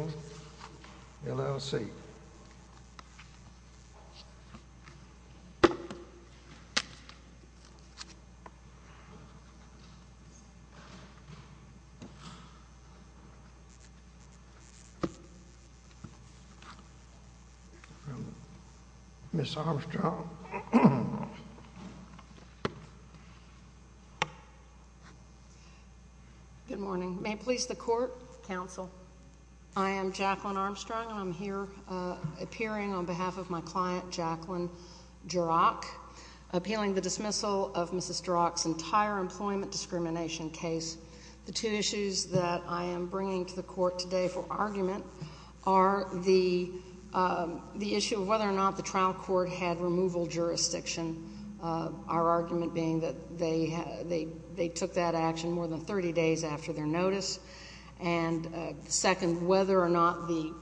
Good morning, may it please the court, counsel. I am Jacqueline Armstrong, and I'm here appearing on behalf of my client, Jacqueline Jurach, appealing the dismissal of Mrs. Jurach's entire employment discrimination case. The two issues that I am bringing to the court today for argument are the issue of whether or not the trial court had removal jurisdiction, our argument being that they took that action more than 30 days after their notice, and second, whether or not the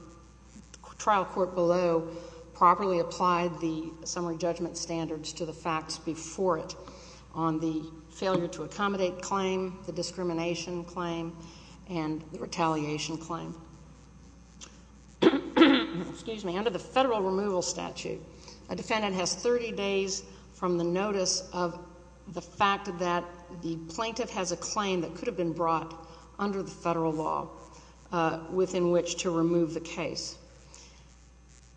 trial court below properly applied the summary judgment standards to the facts before it on the failure to accommodate claim, the discrimination claim, and the retaliation claim. Under the federal removal statute, a defendant has 30 days from the notice of the fact that the plaintiff has a claim that could have been brought under the federal law within which to remove the case.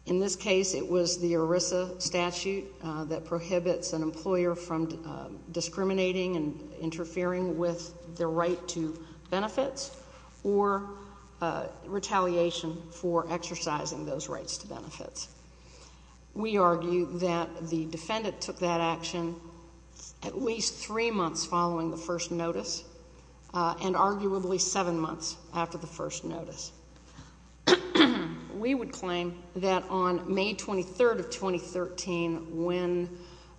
In this case, it was the ERISA statute that prohibits an employer from discriminating and interfering with their right to benefits or retaliation for exercising those rights to benefits. We argue that the defendant took that action at least three months following the first notice, and arguably seven months after the first notice. We would claim that on May 23rd of 2013, when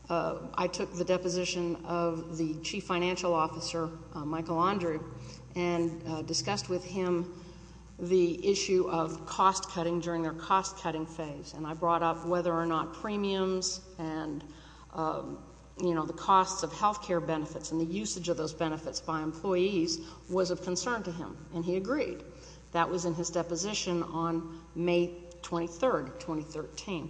I took the deposition of the chief financial officer, Michael Andrew, and discussed with him the issue of cost-cutting during their cost-cutting phase, and I brought up whether or not premiums and, you know, the costs of health care benefits and the usage of those benefits by employees was of concern to him, and he agreed. That was in his deposition on May 23rd, 2013.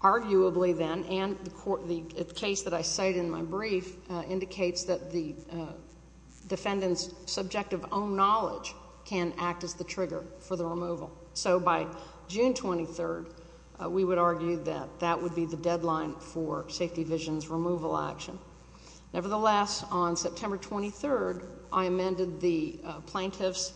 Arguably then, and the case that I cite in my brief indicates that the defendant's subjective own knowledge can act as the trigger for the removal. So by June 23rd, we would argue that that would be the deadline for Safety Vision's removal action. Nevertheless, on September 23rd, I amended the plaintiff's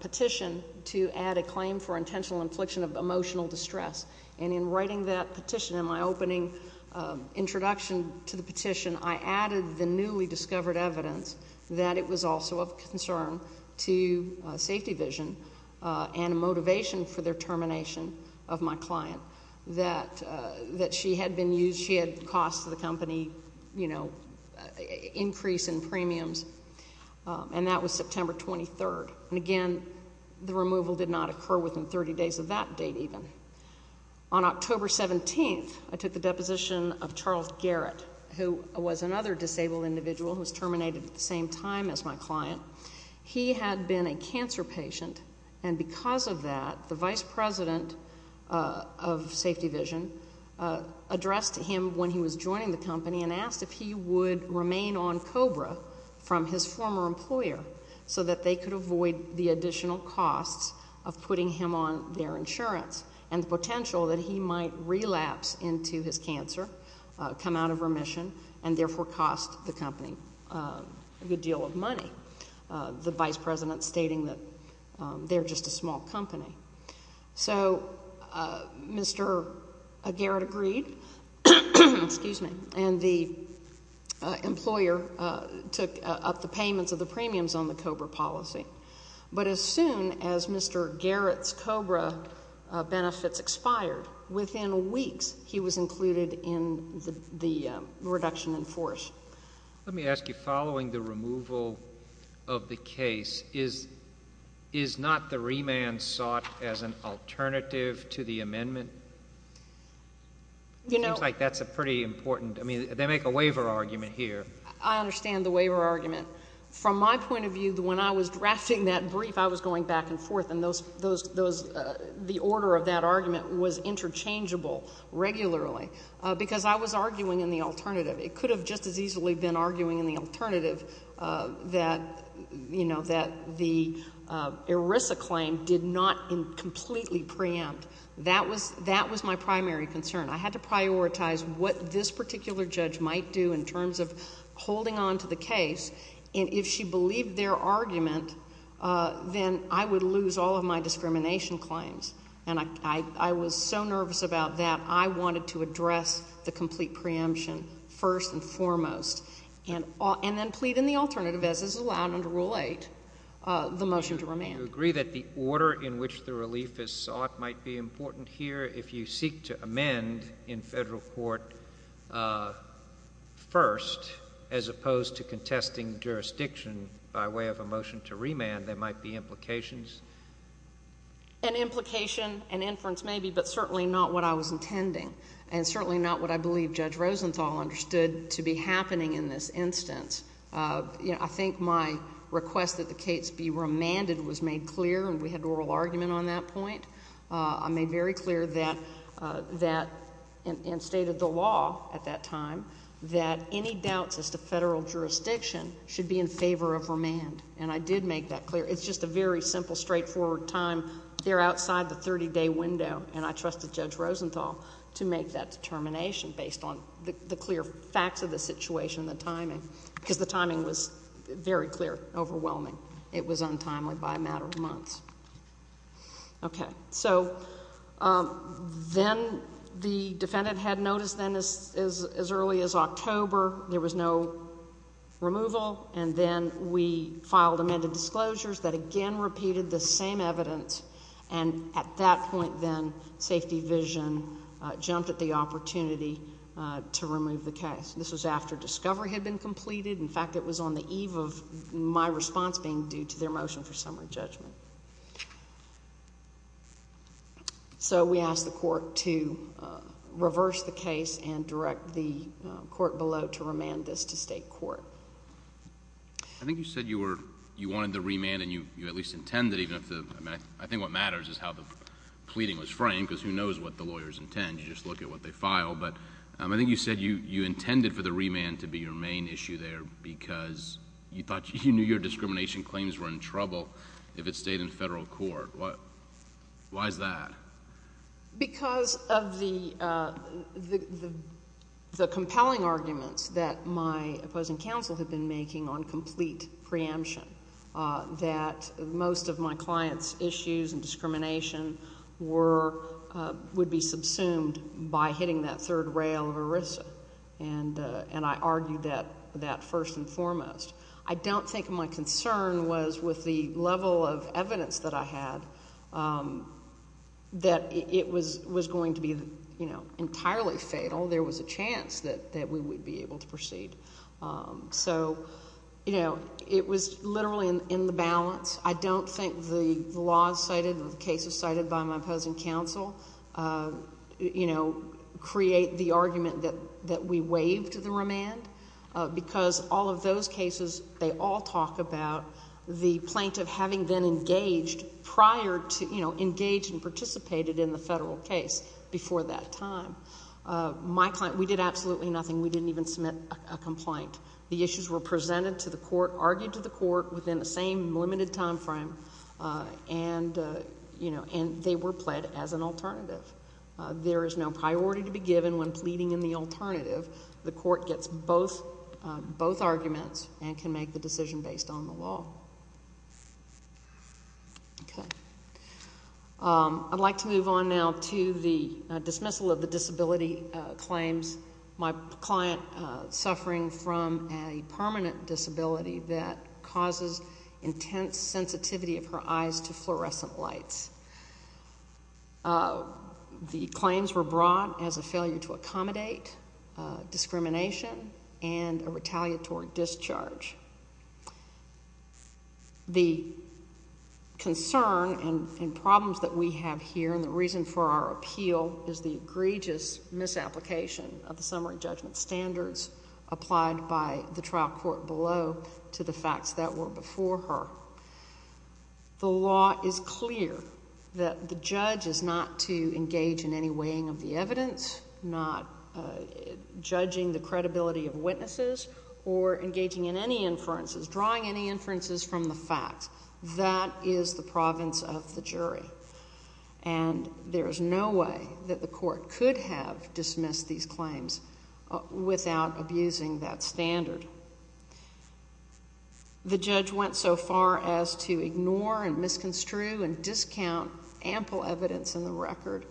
petition to add a claim for intentional infliction of emotional distress, and in writing that petition, in my opening introduction to the petition, I added the newly discovered evidence that it was also of concern to Safety Vision and a motivation for their termination of my client, that she had been used, she had cost the company, you know, increase in premiums, and that was September 23rd. And again, the removal did not occur within 30 days of that date even. On October 17th, I took the deposition of Charles Garrett, who was another disabled individual who was terminated at the same time as my client. He had been a cancer patient, and because of that, the vice president of Safety Vision addressed him when he was joining the company and asked if he would remain on COBRA from his former employer so that they could avoid the additional costs of putting him on their insurance and the potential that he might relapse into his cancer, come out of remission, and therefore cost the company a good deal of money, the vice president stating that they're just a small company. So Mr. Garrett agreed, and the employer took up the payments of the premiums on the COBRA policy. But as soon as Mr. Garrett's COBRA benefits expired, within weeks, he was included in the reduction in force. JUSTICE SCALIA. Let me ask you. Following the removal of the case, is not the remand sought as an alternative to the amendment? It seems like that's a pretty important—I mean, they make a waiver argument here. JUSTICE GINSBURG. I understand the waiver argument. From my point of view, when I was drafting that brief, I was going back and forth, and those—the order of that argument was interchangeable regularly, because I was arguing in the alternative. It could have just as easily been arguing in the alternative that, you know, that the ERISA claim did not completely preempt. That was my primary concern. I had to prioritize what this particular judge might do in terms of holding on to the case, and if she believed their argument, then I would lose all of my discrimination claims. And I was so nervous about that, I wanted to address the complete preemption first and foremost, and then plead in the alternative, as is allowed under Rule 8, the motion to remand. JUSTICE SCALIA. Do you agree that the order in which the relief is sought might be important here if you contesting jurisdiction by way of a motion to remand, there might be implications? JUSTICE GINSBURG. An implication, an inference, maybe, but certainly not what I was intending, and certainly not what I believe Judge Rosenthal understood to be happening in this instance. You know, I think my request that the case be remanded was made clear, and we had an oral argument on that point. I made very clear that—and stated the law at that time—that any doubts as to Federal jurisdiction should be in favor of remand. And I did make that clear. It's just a very simple, straightforward time. They're outside the 30-day window, and I trusted Judge Rosenthal to make that determination based on the clear facts of the situation, the timing, because the timing was very clear, overwhelming. It was untimely by a matter of months. Okay. So then the defendant had notice then as early as October. There was no removal. And then we filed amended disclosures that again repeated the same evidence. And at that point then, Safety Vision jumped at the opportunity to remove the case. This was after discovery had been completed. In fact, it was on the eve of my response being due to their motion for summary judgment. So we asked the court to reverse the case and direct the court below to remand this to state court. I think you said you wanted the remand, and you at least intended, even if the—I think what matters is how the pleading was framed, because who knows what the lawyers intend? You just look at what they file. But I think you said you intended for the remand to be your main issue there because you thought you knew your discrimination claims were in trouble if it stayed in Federal court. Why is that? Because of the compelling arguments that my opposing counsel had been making on complete preemption, that most of my client's issues and discrimination would be subsumed by hitting that third rail of ERISA. And I argued that first and foremost. I don't think my concern was with the level of evidence that I had that it was going to be, you know, entirely fatal. There was a chance that we would be able to proceed. So, you know, it was literally in the balance. I don't think the laws cited, the cases cited by my opposing counsel, you know, create the argument that we waived the remand because all of those cases, they all talk about the plaintiff having been engaged prior to, you know, engaged and participated in the Federal case before that time. My client, we did absolutely nothing. We didn't even submit a complaint. The issues were presented to the court, argued to the court within the same limited time frame, and, you know, and they were pled as an alternative. There is no priority to be given when pleading in the alternative. The court gets both arguments and can make the decision based on the law. Okay. I'd like to move on now to the dismissal of the disability claims. My client suffering from a permanent disability that causes intense sensitivity of her eyes to fluorescent lights. The claims were brought as a failure to accommodate discrimination and a retaliatory discharge. The concern and problems that we have here and the reason for our appeal is the egregious misapplication of the summary judgment standards applied by the trial court below to the facts that were before her. The law is clear that the judge is not to engage in any weighing of the evidence, not judging the credibility of witnesses, or engaging in any inferences, drawing any inferences from the facts. That is the province of the jury. And there is no way that the court could have dismissed these claims without abusing that standard. Okay. The judge went so far as to ignore and misconstrue and discount ample evidence in the record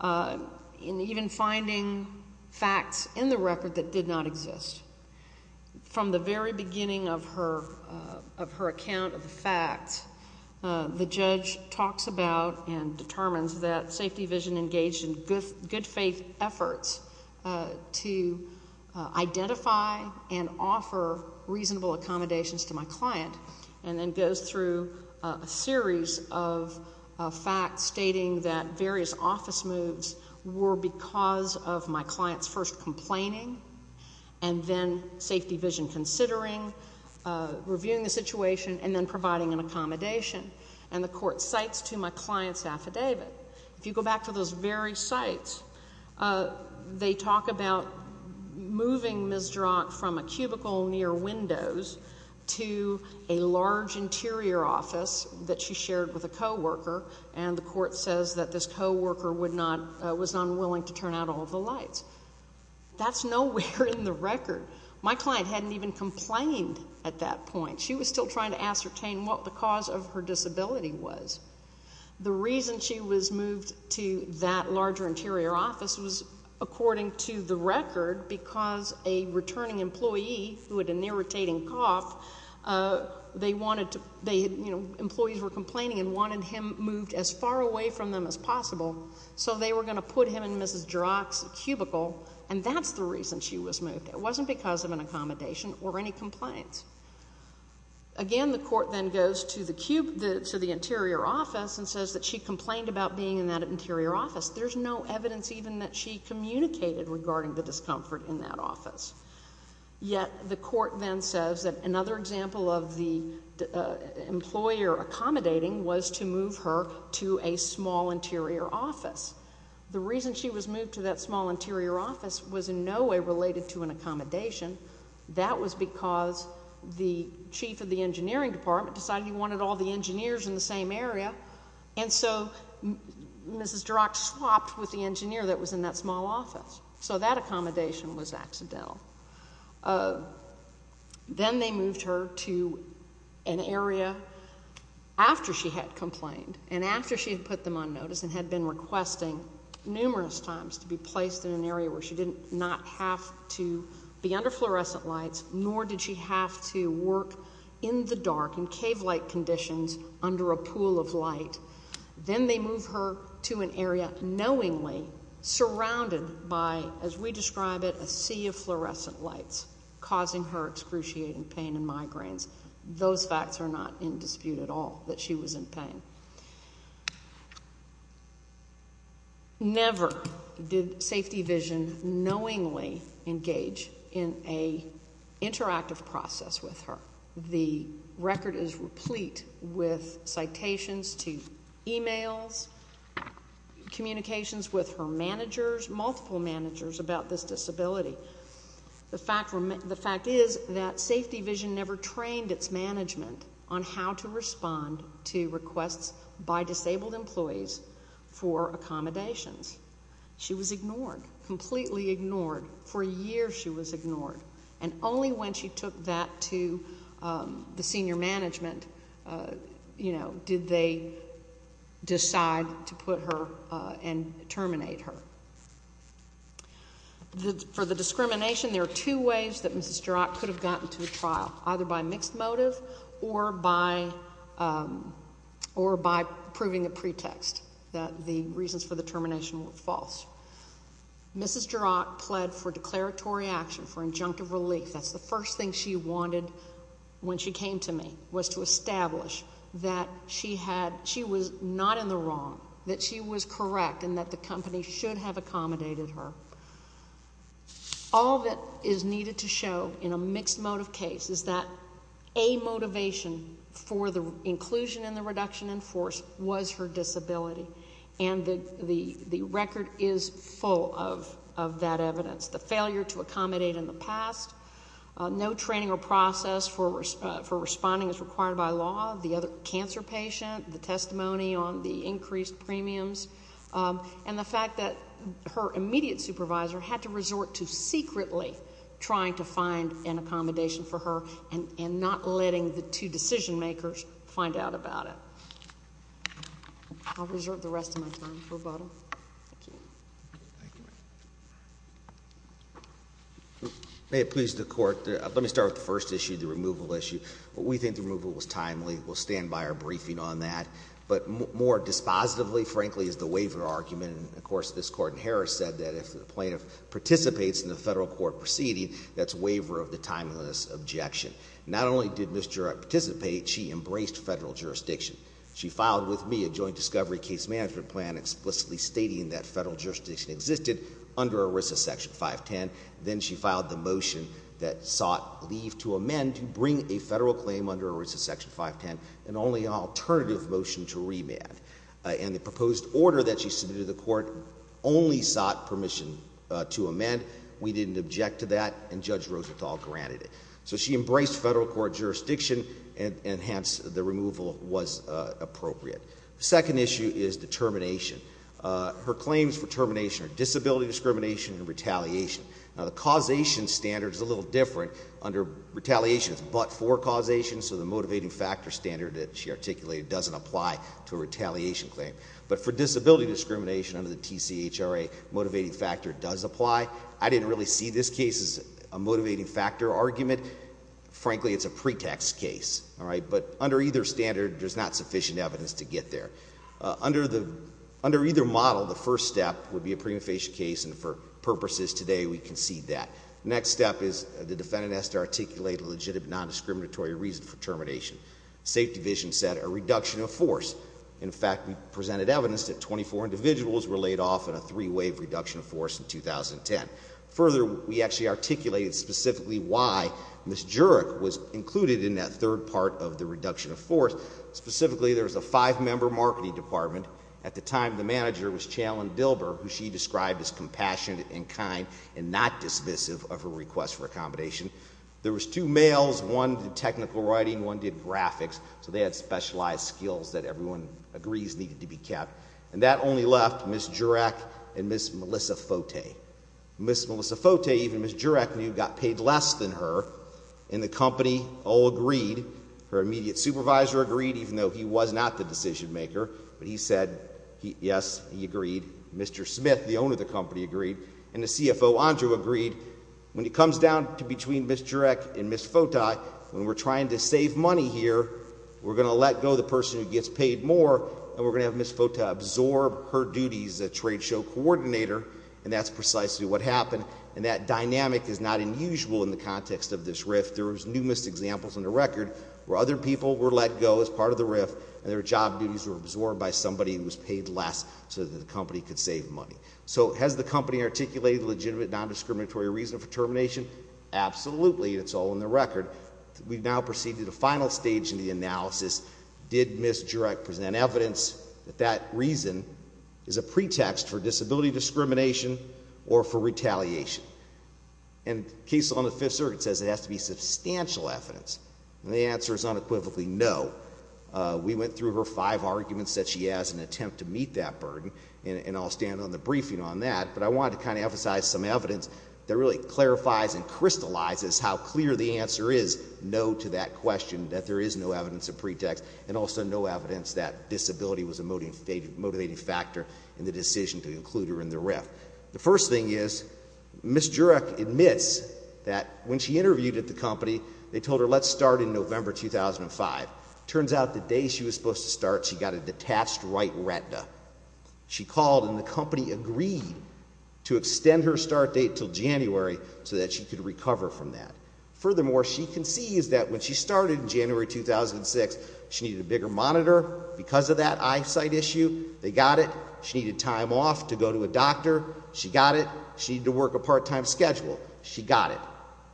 and even finding facts in the record that did not exist. From the very beginning of her account of the facts, the judge talks about and determines that Safety Vision engaged in good faith efforts to identify and offer reasonable accommodations to my client and then goes through a series of facts stating that various office moves were because of my client's first complaining and then Safety Vision considering, reviewing the situation, and then providing an accommodation. And the court cites to my client's affidavit. If you go back to those very sites, they talk about moving Ms. Drach from a cubicle near windows to a large interior office that she shared with a co-worker, and the court says that this co-worker was unwilling to turn out all the lights. That's nowhere in the record. My client hadn't even complained at that point. She was still trying to ascertain what the cause of her disability was. The reason she was moved to that larger interior office was, according to the record, because a returning employee who had an irritating cough, they wanted to, they had, you know, employees were complaining and wanted him moved as far away from them as possible, so they were going to put him in Ms. Drach's cubicle, and that's the reason she was moved. It wasn't because of an accommodation or any complaints. Again, the court then goes to the cube, to the interior office, and says that she complained about being in that interior office. There's no evidence even that she communicated regarding the discomfort in that office. Yet the court then says that another example of the employer accommodating was to move her to a small interior office. The reason she was moved to that small interior office was in no way related to an accommodation. That was because the chief of the engineering department decided he wanted all the engineers in the same area, and so Mrs. Drach swapped with the engineer that was in that small office. So that accommodation was accidental. Then they moved her to an area after she had complained and after she had put them on notice and had been requesting numerous times to be placed in an area where she did not have to be under fluorescent lights, nor did she have to work in the dark in cave-like conditions under a pool of light. Then they move her to an area knowingly surrounded by, as we describe it, a sea of fluorescent lights, causing her excruciating pain and migraines. Those facts are not in dispute at all that she was in pain. Never did Safety Vision knowingly engage in an interactive process with her. The record is replete with citations to emails, communications with her managers, multiple managers about this disability. The fact is that Safety Vision never trained its management on how to respond to requests by disabled employees for accommodations. She was ignored, completely ignored. For years, she was ignored. And only when she took that to the senior management did they decide to put her and terminate her. For the discrimination, there are two ways that Mrs. Drach could have gotten to a trial, either by mixed motive or by proving a pretext that the reasons for the termination were false. Mrs. Drach pled for declaratory action, for injunctive relief. That's the first thing she wanted when she came to me, was to establish that she was not in the wrong, that she was correct, and that the company should have accommodated her. All that is needed to show in a mixed motive case is that a motivation for the inclusion in the reduction in force was her disability. And the record is full of that evidence. The failure to accommodate in the past, no training or process for responding as required by law, the other cancer patient, the testimony on the increased premiums, and the fact that her immediate supervisor had to resort to secretly trying to find an accommodation for her and not letting the two decision makers find out about it. I'll reserve the rest of my time for rebuttal. Thank you. Thank you, ma'am. May it please the Court, let me start with the first issue, the removal issue. We think the removal was timely. We'll stand by our briefing on that. But more dispositively, frankly, is the waiver argument. And, of course, this Court in Harris said that if the plaintiff participates in the federal court proceeding, that's a waiver of the timeliness objection. Not only did Ms. Jurek participate, she embraced federal jurisdiction. She filed with me a joint discovery case management plan explicitly stating that federal jurisdiction existed under ERISA section 510. Then she filed the motion that sought leave to amend to bring a federal claim under ERISA section 510 and only an alternative motion to remand. And the proposed order that she submitted to the Court only sought permission to amend. We didn't object to that, and Judge Rosenthal granted it. So she embraced federal court jurisdiction, and hence, the removal was appropriate. Second issue is the termination. Her claims for termination are disability discrimination and retaliation. Now, the causation standard is a little different. Under retaliation, it's but-for causation. So the motivating factor standard that she articulated doesn't apply to a retaliation claim. But for disability discrimination under the TCHRA, motivating factor does apply. I didn't really see this case as a motivating factor argument. Frankly, it's a pretext case, all right? But under either standard, there's not sufficient evidence to get there. Under either model, the first step would be a prima facie case, and for purposes today, we concede that. Next step is the defendant has to articulate a legitimate, non-discriminatory reason for termination. Safe Division said a reduction of force. In fact, we presented evidence that 24 individuals were laid off in a three-wave reduction of force in 2010. Further, we actually articulated specifically why Ms. Jurek was included in that third part of the reduction of force. Specifically, there was a five-member marketing department. At the time, the manager was Chanelyn Bilber, who she described as compassionate and kind and not dismissive of her request for accommodation. There was two males. One did technical writing. One did graphics. So they had specialized skills that everyone agrees needed to be kept. And that only left Ms. Jurek and Ms. Melissa Fote. Ms. Melissa Fote, even Ms. Jurek knew, got paid less than her. And the company all agreed. Her immediate supervisor agreed, even though he was not the decision maker. But he said, yes, he agreed. Mr. Smith, the owner of the company, agreed. And the CFO, Andrew, agreed. When it comes down to between Ms. Jurek and Ms. Fote, when we're trying to save money here, we're going to let go the person who gets paid more. And we're going to have Ms. Fote absorb her duties as a trade show coordinator. And that's precisely what happened. And that dynamic is not unusual in the context of this RIF. There was numerous examples on the record where other people were let go as part of the RIF, and their job duties were absorbed by somebody who was paid less so that the company could save money. So has the company articulated a legitimate, non-discriminatory reason for termination? Absolutely. It's all in the record. We've now proceeded to the final stage in the analysis. Did Ms. Jurek present evidence that that reason is a pretext for disability discrimination or for retaliation? And the case on the Fifth Circuit says it has to be substantial evidence. And the answer is unequivocally no. We went through her five arguments that she has in an attempt to meet that burden. And I'll stand on the briefing on that. But I wanted to kind of emphasize some evidence that really clarifies and crystallizes how clear the answer is no to that question, that there is no evidence of pretext, and also no evidence that disability was a motivating factor in the decision to include her in the RIF. The first thing is, Ms. Jurek admits that when she interviewed at the company, they told her, let's start in November 2005. Turns out the day she was supposed to start, she got a detached right retina. She called and the company agreed to extend her start date until January so that she could recover from that. Furthermore, she concedes that when she started in January 2006, she needed a bigger monitor because of that eyesight issue. They got it. She needed time off to go to a doctor. She got it. She needed to work a part-time schedule. She got it.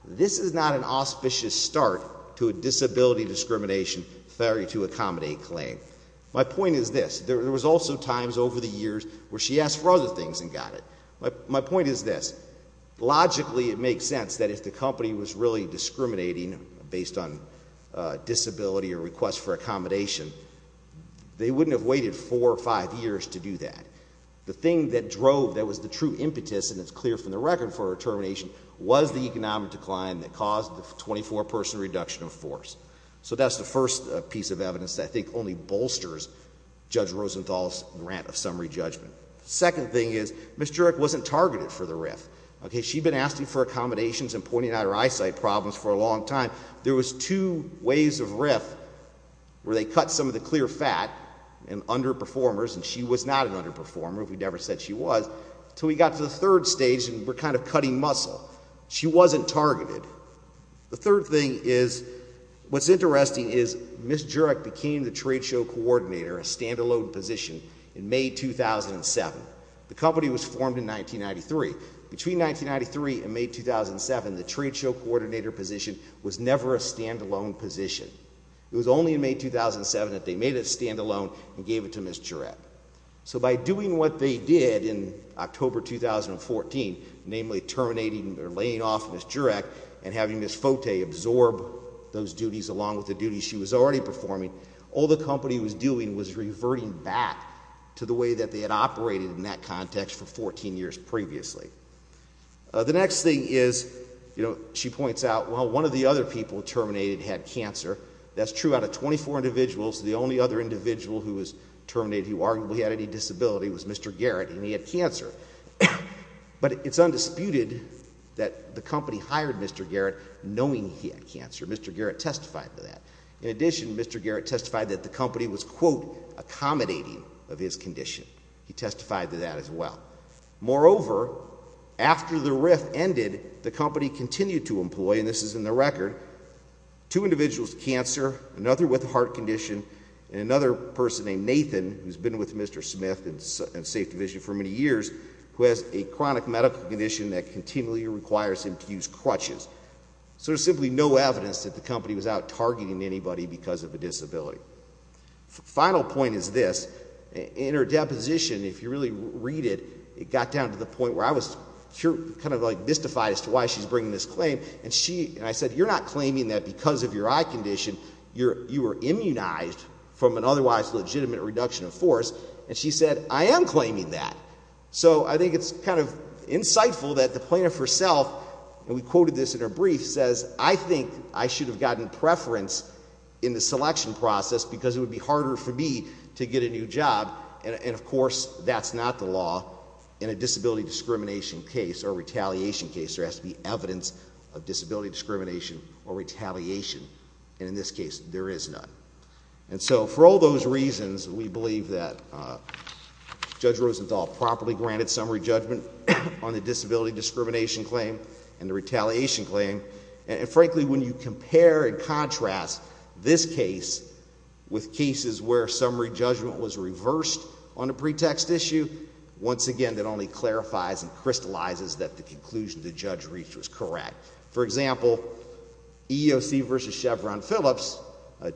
This is not an auspicious start to a disability discrimination failure to accommodate claim. My point is this. There was also times over the years where she asked for other things and got it. My point is this. Logically, it makes sense that if the company was really discriminating based on disability or request for accommodation, they wouldn't have waited four or five years to do that. The thing that drove, that was the true impetus, and it's clear from the record for her determination, was the economic decline that caused the 24-person reduction of force. So that's the first piece of evidence that I think only bolsters Judge Rosenthal's grant of summary judgment. Second thing is, Ms. Jurek wasn't targeted for the RIF. Okay, she'd been asking for accommodations and pointing out her eyesight problems for a long time. There was two waves of RIF where they cut some of the clear fat and underperformers, and she was not an underperformer, we never said she was, until we got to the third stage and we're kind of cutting muscle. She wasn't targeted. The third thing is, what's interesting is Ms. Jurek became the trade show coordinator, a stand-alone position, in May 2007. The company was formed in 1993. Between 1993 and May 2007, the trade show coordinator position was never a stand-alone position. It was only in May 2007 that they made it a stand-alone and gave it to Ms. Jurek. So by doing what they did in October 2014, namely terminating or laying off Ms. Jurek and having Ms. Fote absorb those duties along with the duties she was already performing, all the company was doing was reverting back to the way that they had operated in that context for 14 years previously. The next thing is, you know, she points out, well, one of the other people terminated had cancer. That's true out of 24 individuals. The only other individual who was terminated who arguably had any disability was Mr. Garrett and he had cancer. But it's undisputed that the company hired Mr. Garrett knowing he had cancer. Mr. Garrett testified to that. In addition, Mr. Garrett testified that the company was, quote, accommodating of his condition. He testified to that as well. Moreover, after the RIF ended, the company continued to employ, and this is in the record, two individuals with cancer, another with a heart condition, and another person named Nathan, who's been with Mr. Smith and Safe Division for many years, who has a chronic medical condition that continually requires him to use crutches. So there's simply no evidence that the company was out targeting anybody because of a disability. Final point is this. In her deposition, if you really read it, it got down to the point where I was kind of like mystified as to why she's bringing this claim. And I said, you're not claiming that because of your eye condition, you were immunized from an otherwise legitimate reduction of force. And she said, I am claiming that. So I think it's kind of insightful that the plaintiff herself, and we quoted this in her brief, says, I think I should have gotten preference in the selection process because it would be harder for me to get a new job. And of course, that's not the law in a disability discrimination case or retaliation case. There has to be evidence of disability discrimination or retaliation. And in this case, there is none. And so for all those reasons, we believe that Judge Rosenthal properly granted summary judgment on the disability discrimination claim and the retaliation claim. And frankly, when you compare and contrast this case with cases where summary judgment was reversed on a pretext issue, once again, that only clarifies and crystallizes that the conclusion the judge reached was correct. For example, EEOC versus Chevron Phillips,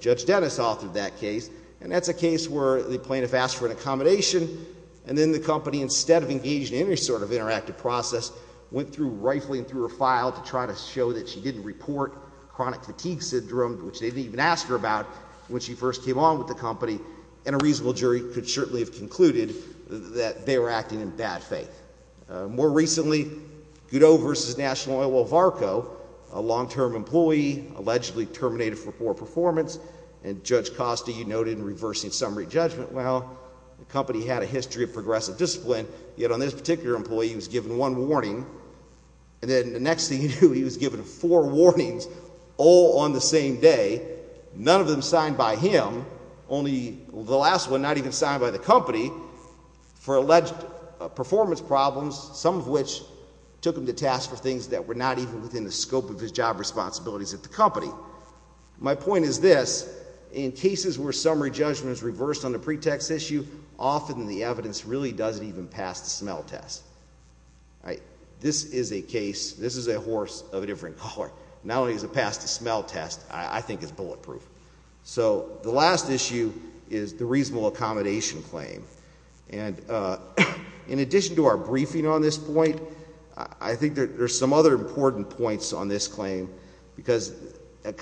Judge Dennis authored that case. And that's a case where the plaintiff asked for an accommodation. And then the company, instead of engaging in any sort of interactive process, went through rifling through her file to try to show that she didn't report chronic fatigue syndrome, which they didn't even ask her about when she first came on with the company. And a reasonable jury could certainly have concluded that they were acting in bad faith. More recently, Goodo versus National Oil of Arco, a long-term employee allegedly terminated for poor performance. And Judge Costa, you noted, in reversing summary judgment. Well, the company had a history of progressive discipline. Yet on this particular employee, he was given one warning. And then the next thing you knew, he was given four warnings all on the same day, none of them signed by him. Only the last one, not even signed by the company, for alleged performance problems, some of which took him to task for things that were not even within the scope of his job responsibilities at the company. My point is this, in cases where summary judgment is reversed on a pretext issue, often the evidence really doesn't even pass the smell test. This is a case, this is a horse of a different color. Not only does it pass the smell test, I think it's bulletproof. So the last issue is the reasonable accommodation claim. And in addition to our briefing on this point, I think there's some other important points on this claim. Because a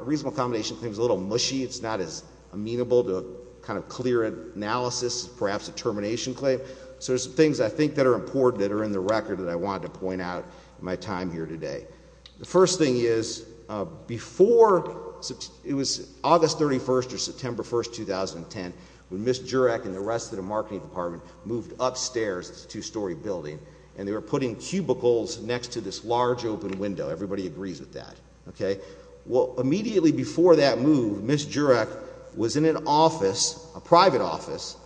reasonable accommodation claim is a little mushy. It's not as amenable to a kind of clear analysis, perhaps a termination claim. So there's some things I think that are important that are in the record that I wanted to point out in my time here today. The first thing is before, it was August 31st or September 1st, 2010, when Ms. Jurek and the rest of the marketing department moved upstairs to a two-story building. And they were putting cubicles next to this large open window. Everybody agrees with that. Okay. Well, immediately before that move, Ms. Jurek was in an office, a private office,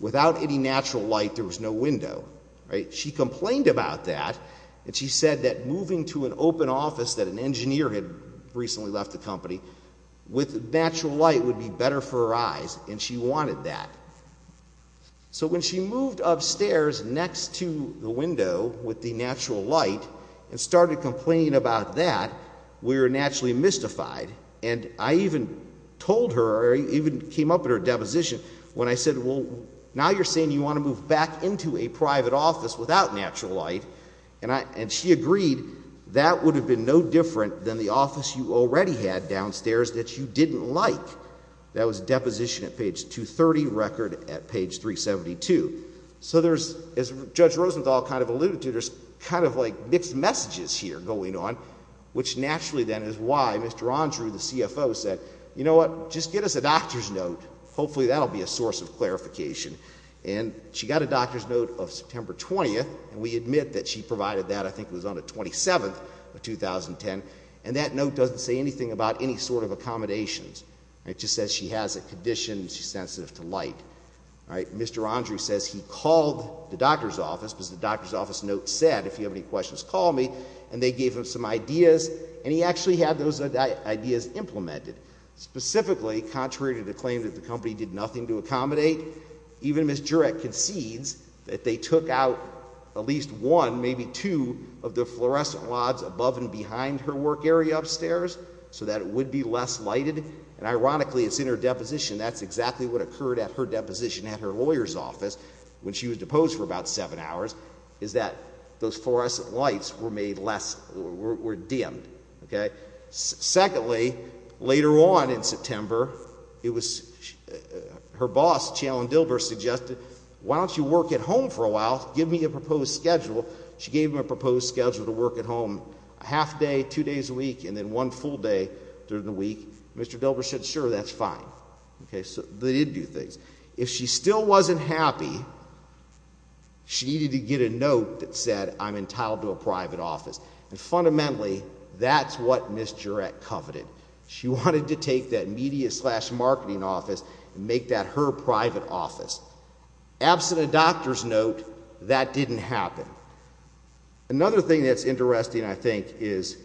without any natural light. There was no window, right? She complained about that. And she said that moving to an open office that an engineer had recently left the company with natural light would be better for her eyes. And she wanted that. So when she moved upstairs next to the window with the natural light and started complaining about that, we were naturally mystified. And I even told her, or even came up at her deposition, when I said, well, now you're moving back into a private office without natural light, and she agreed, that would have been no different than the office you already had downstairs that you didn't like. That was a deposition at page 230, record at page 372. So there's, as Judge Rosenthal kind of alluded to, there's kind of like mixed messages here going on, which naturally then is why Mr. Andrew, the CFO, said, you know what? Just get us a doctor's note. Hopefully that will be a source of clarification. And she got a doctor's note of September 20th, and we admit that she provided that, I think it was on the 27th of 2010. And that note doesn't say anything about any sort of accommodations. It just says she has a condition, she's sensitive to light. Mr. Andrew says he called the doctor's office, because the doctor's office note said, if you have any questions, call me. And they gave him some ideas. And he actually had those ideas implemented. Specifically, contrary to the claim that the company did nothing to accommodate, even Ms. Jurek concedes that they took out at least one, maybe two of the fluorescent lights above and behind her work area upstairs, so that it would be less lighted. And ironically, it's in her deposition. That's exactly what occurred at her deposition at her lawyer's office, when she was deposed for about seven hours, is that those fluorescent lights were dimmed. Okay? Secondly, later on in September, it was her boss, Chandler Dilber, suggested, why don't you work at home for a while? Give me a proposed schedule. She gave him a proposed schedule to work at home a half day, two days a week, and then one full day during the week. Mr. Dilber said, sure, that's fine. Okay, so they did do things. If she still wasn't happy, she needed to get a note that said, I'm entitled to a private office. And fundamentally, that's what Ms. Jurek coveted. She wanted to take that media slash marketing office and make that her private office. Absent a doctor's note, that didn't happen. Another thing that's interesting, I think, is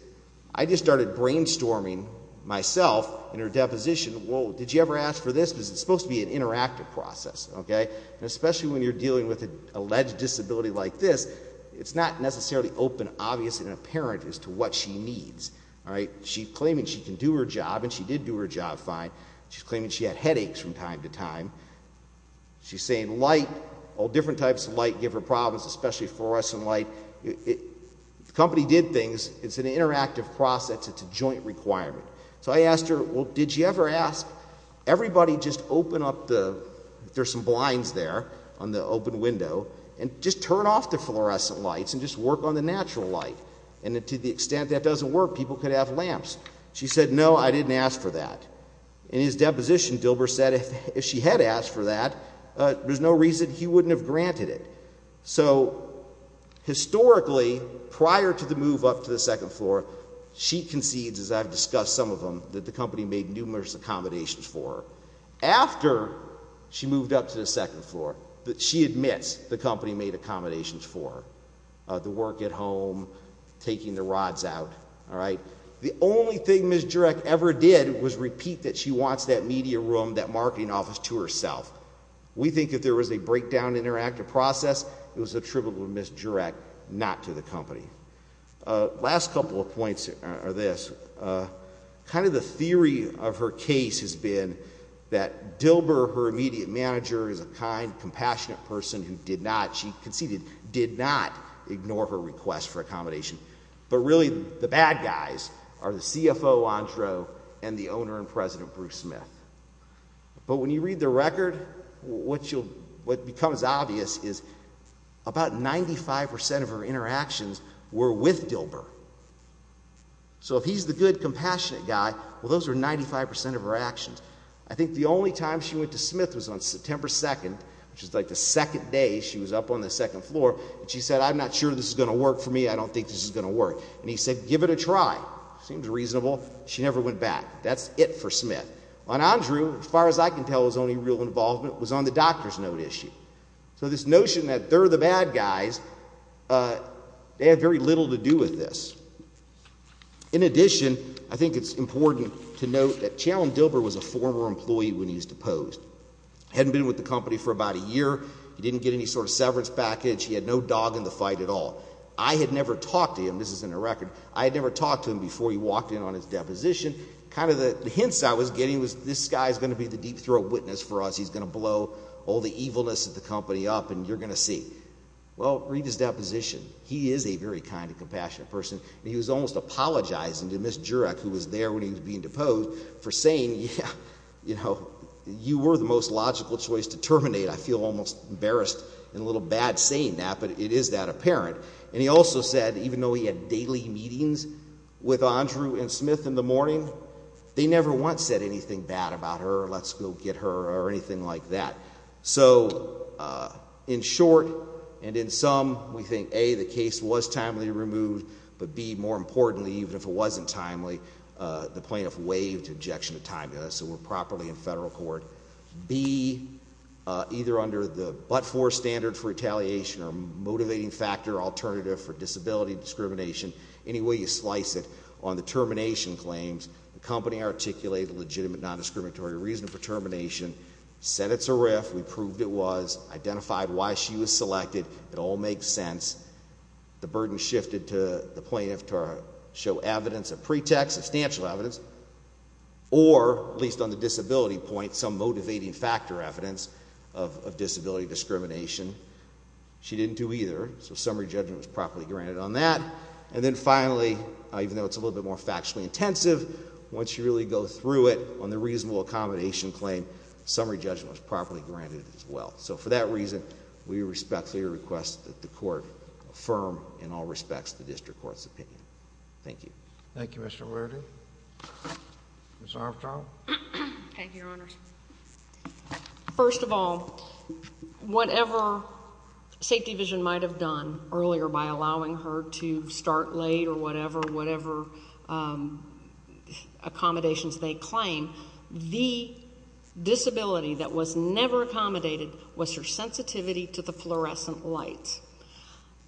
I just started brainstorming myself in her deposition, whoa, did you ever ask for this? Because it's supposed to be an interactive process. Okay? And especially when you're dealing with an alleged disability like this, it's not necessarily open, obvious, and apparent as to what she needs. All right? She's claiming she can do her job, and she did do her job fine. She's claiming she had headaches from time to time. She's saying light, all different types of light give her problems, especially fluorescent light. If the company did things, it's an interactive process. It's a joint requirement. So I asked her, well, did you ever ask, everybody just open up the, there's some blinds there, on the open window, and just turn off the fluorescent lights and just work on the natural light? And to the extent that doesn't work, people could have lamps. She said, no, I didn't ask for that. In his deposition, Dilber said if she had asked for that, there's no reason he wouldn't have granted it. So historically, prior to the move up to the second floor, she concedes, as I've discussed some of them, that the company made numerous accommodations for her. After she moved up to the second floor, she admits the company made accommodations for her, the work at home, taking the rods out, all right? The only thing Ms. Jurek ever did was repeat that she wants that media room, that marketing office to herself. We think if there was a breakdown in her active process, it was attributable to Ms. Jurek, not to the company. Last couple of points are this. Kind of the theory of her case has been that Dilber, her immediate manager, is a kind, compassionate person who did not, she conceded, did not ignore her request for accommodation. But really, the bad guys are the CFO, Andro, and the owner and president, Bruce Smith. But when you read the record, what becomes obvious is about 95% of her interactions were with Dilber. So if he's the good, compassionate guy, well, those are 95% of her actions. I think the only time she went to Smith was on September 2nd, which is like the second day she was up on the second floor, and she said, I'm not sure this is going to work for me. I don't think this is going to work. And he said, give it a try. Seems reasonable. She never went back. That's it for Smith. On Andro, as far as I can tell, his only real involvement was on the doctor's note issue. So this notion that they're the bad guys, they had very little to do with this. In addition, I think it's important to note that Chandler Dilber was a former employee when he was deposed. He hadn't been with the company for about a year. He didn't get any sort of severance package. He had no dog in the fight at all. I had never talked to him. This is in the record. I had never talked to him before he walked in on his deposition. Kind of the hints I was getting was, this guy is going to be the deep throat witness for us. He's going to blow all the evilness of the company up. And you're going to see. Well, read his deposition. He is a very kind and compassionate person. He was almost apologizing to Ms. Jurek, who was there when he was being deposed, for saying, yeah, you know, you were the most logical choice to terminate. I feel almost embarrassed and a little bad saying that. But it is that apparent. And he also said, even though he had daily meetings with Andro and Smith in the morning, they never once said anything bad about her. Let's go get her, or anything like that. So in short, and in sum, we think, A, the case was timely removed. But B, more importantly, even if it wasn't timely, the plaintiff waived injection of time to us so we're properly in federal court. B, either under the but-for standard for retaliation or motivating factor alternative for disability discrimination, any way you slice it, on the termination claims, the company articulated a legitimate non-discriminatory reason for termination, said it's a RIF, we proved it was, identified why she was selected. It all makes sense. The burden shifted to the plaintiff to show evidence, a pretext, substantial evidence, or, at least on the disability point, some motivating factor evidence of disability discrimination. She didn't do either, so summary judgment was properly granted on that. And then finally, even though it's a little bit more factually intensive, once you really go through it on the reasonable accommodation claim, summary judgment was properly granted as well. So for that reason, we respectfully request that the court affirm, in all respects, the district court's opinion. Thank you. Thank you, Mr. Lurdy. Ms. Armstrong? Thank you, Your Honor. First of all, whatever Safety Vision might have done earlier by allowing her to start late or whatever, whatever accommodations they claim, the disability that was never accommodated was her sensitivity to the fluorescent lights.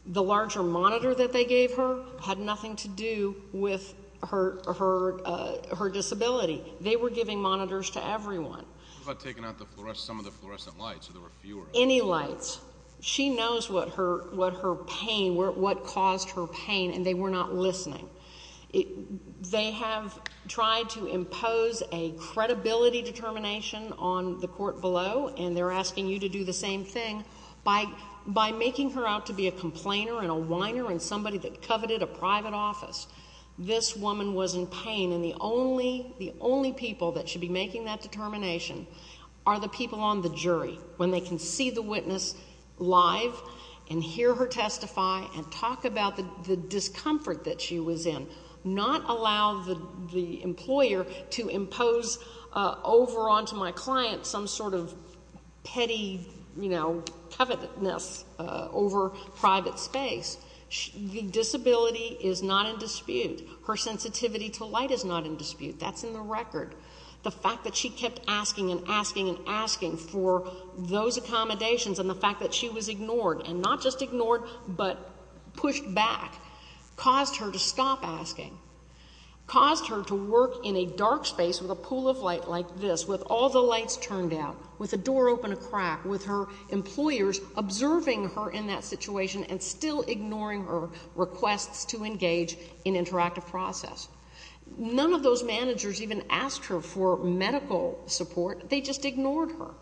The larger monitor that they gave her had nothing to do with her disability. They were giving monitors to everyone. What about taking out some of the fluorescent lights, or there were fewer? Any lights. She knows what her pain, what caused her pain, and they were not listening. They have tried to impose a credibility determination on the court below, and they're asking you to do the same thing. By making her out to be a complainer and a whiner and somebody that coveted a private office, this woman was in pain. And the only people that should be making that determination are the people on the jury, when they can see the witness live and hear her testify and talk about the discomfort that she was in, not allow the employer to impose over onto my client some sort of petty covetousness over private space. The disability is not in dispute. Her sensitivity to light is not in dispute. That's in the record. The fact that she kept asking and asking and asking for those accommodations and the fact that she was ignored, and not just ignored, but pushed back, caused her to stop asking. Caused her to work in a dark space with a pool of light like this, with all the lights turned out, with a door open a crack, with her employers observing her in that situation and still ignoring her requests to engage in interactive process. None of those managers even asked her for medical support. They just ignored her.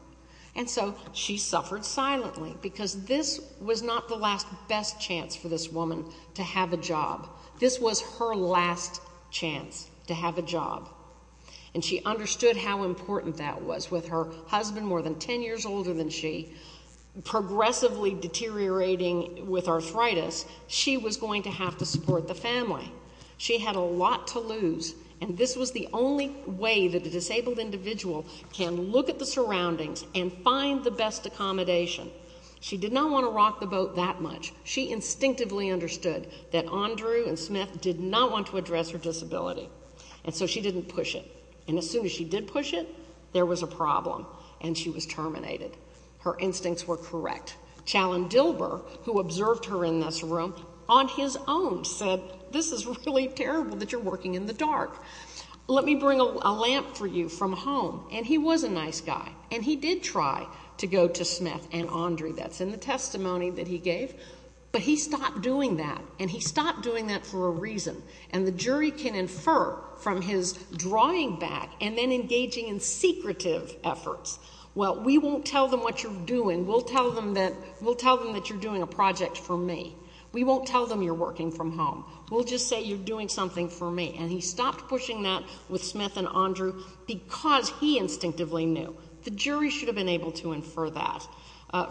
And so she suffered silently, because this was not the last best chance for this woman to have a job. This was her last chance to have a job. And she understood how important that was. With her husband more than 10 years older than she, progressively deteriorating with arthritis, she was going to have to support the family. She had a lot to lose. And this was the only way that a disabled individual can look at the surroundings and find the best accommodation. She did not want to rock the boat that much. She instinctively understood that Andrew and Smith did not want to address her disability. And so she didn't push it. And as soon as she did push it, there was a problem. And she was terminated. Her instincts were correct. Chalim Dilber, who observed her in this room, on his own said, this is really terrible that you're working in the dark. Let me bring a lamp for you from home. And he was a nice guy. And he did try to go to Smith and Andrew. That's in the testimony that he gave. But he stopped doing that. And he stopped doing that for a reason. And the jury can infer from his drawing back and then engaging in secretive efforts, well, we won't tell them what you're doing. We'll tell them that you're doing a project for me. We won't tell them you're working from home. We'll just say you're doing something for me. And he stopped pushing that with Smith and Andrew because he instinctively knew. The jury should have been able to infer that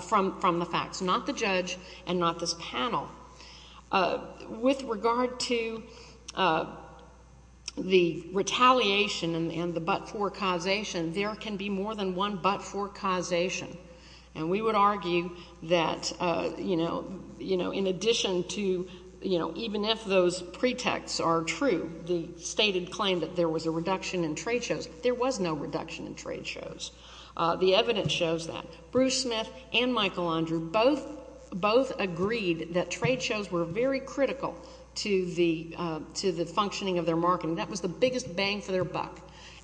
from the facts, not the judge and not this panel. With regard to the retaliation and the but-for causation, there can be more than one but-for causation. And we would argue that, you know, in addition to, you know, even if those pretexts are true, the stated claim that there was a reduction in trade shows, there was no reduction in trade shows. The evidence shows that. Bruce Smith and Michael Andrew both agreed that trade shows were very critical to the functioning of their marketing. That was the biggest bang for their buck.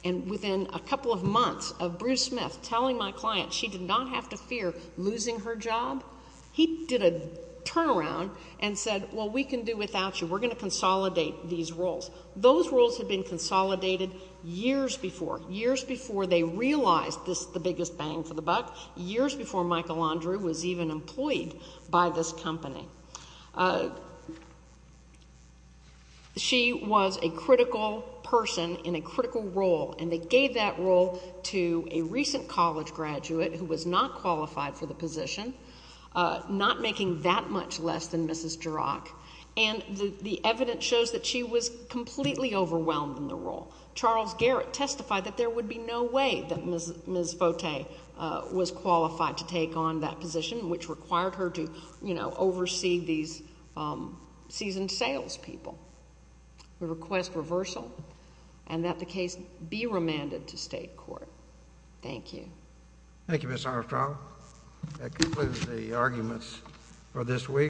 And within a couple of months of Bruce Smith telling my client she did not have to fear losing her job, he did a turnaround and said, well, we can do without you. We're going to consolidate these roles. Those roles had been consolidated years before, years before they realized this is the biggest bang for the buck, years before Michael Andrew was even employed by this company. She was a critical person in a critical role, and they gave that role to a recent college graduate who was not qualified for the position, not making that much less than Mrs. Jurok. And the evidence shows that she was completely overwhelmed in the role. Charles Garrett testified that there would be no way that Ms. Fote was qualified to take on that position, which required her to, you know, oversee the these seasoned salespeople. We request reversal and that the case be remanded to state court. Thank you. Thank you, Ms. Armstrong. That concludes the arguments for this week.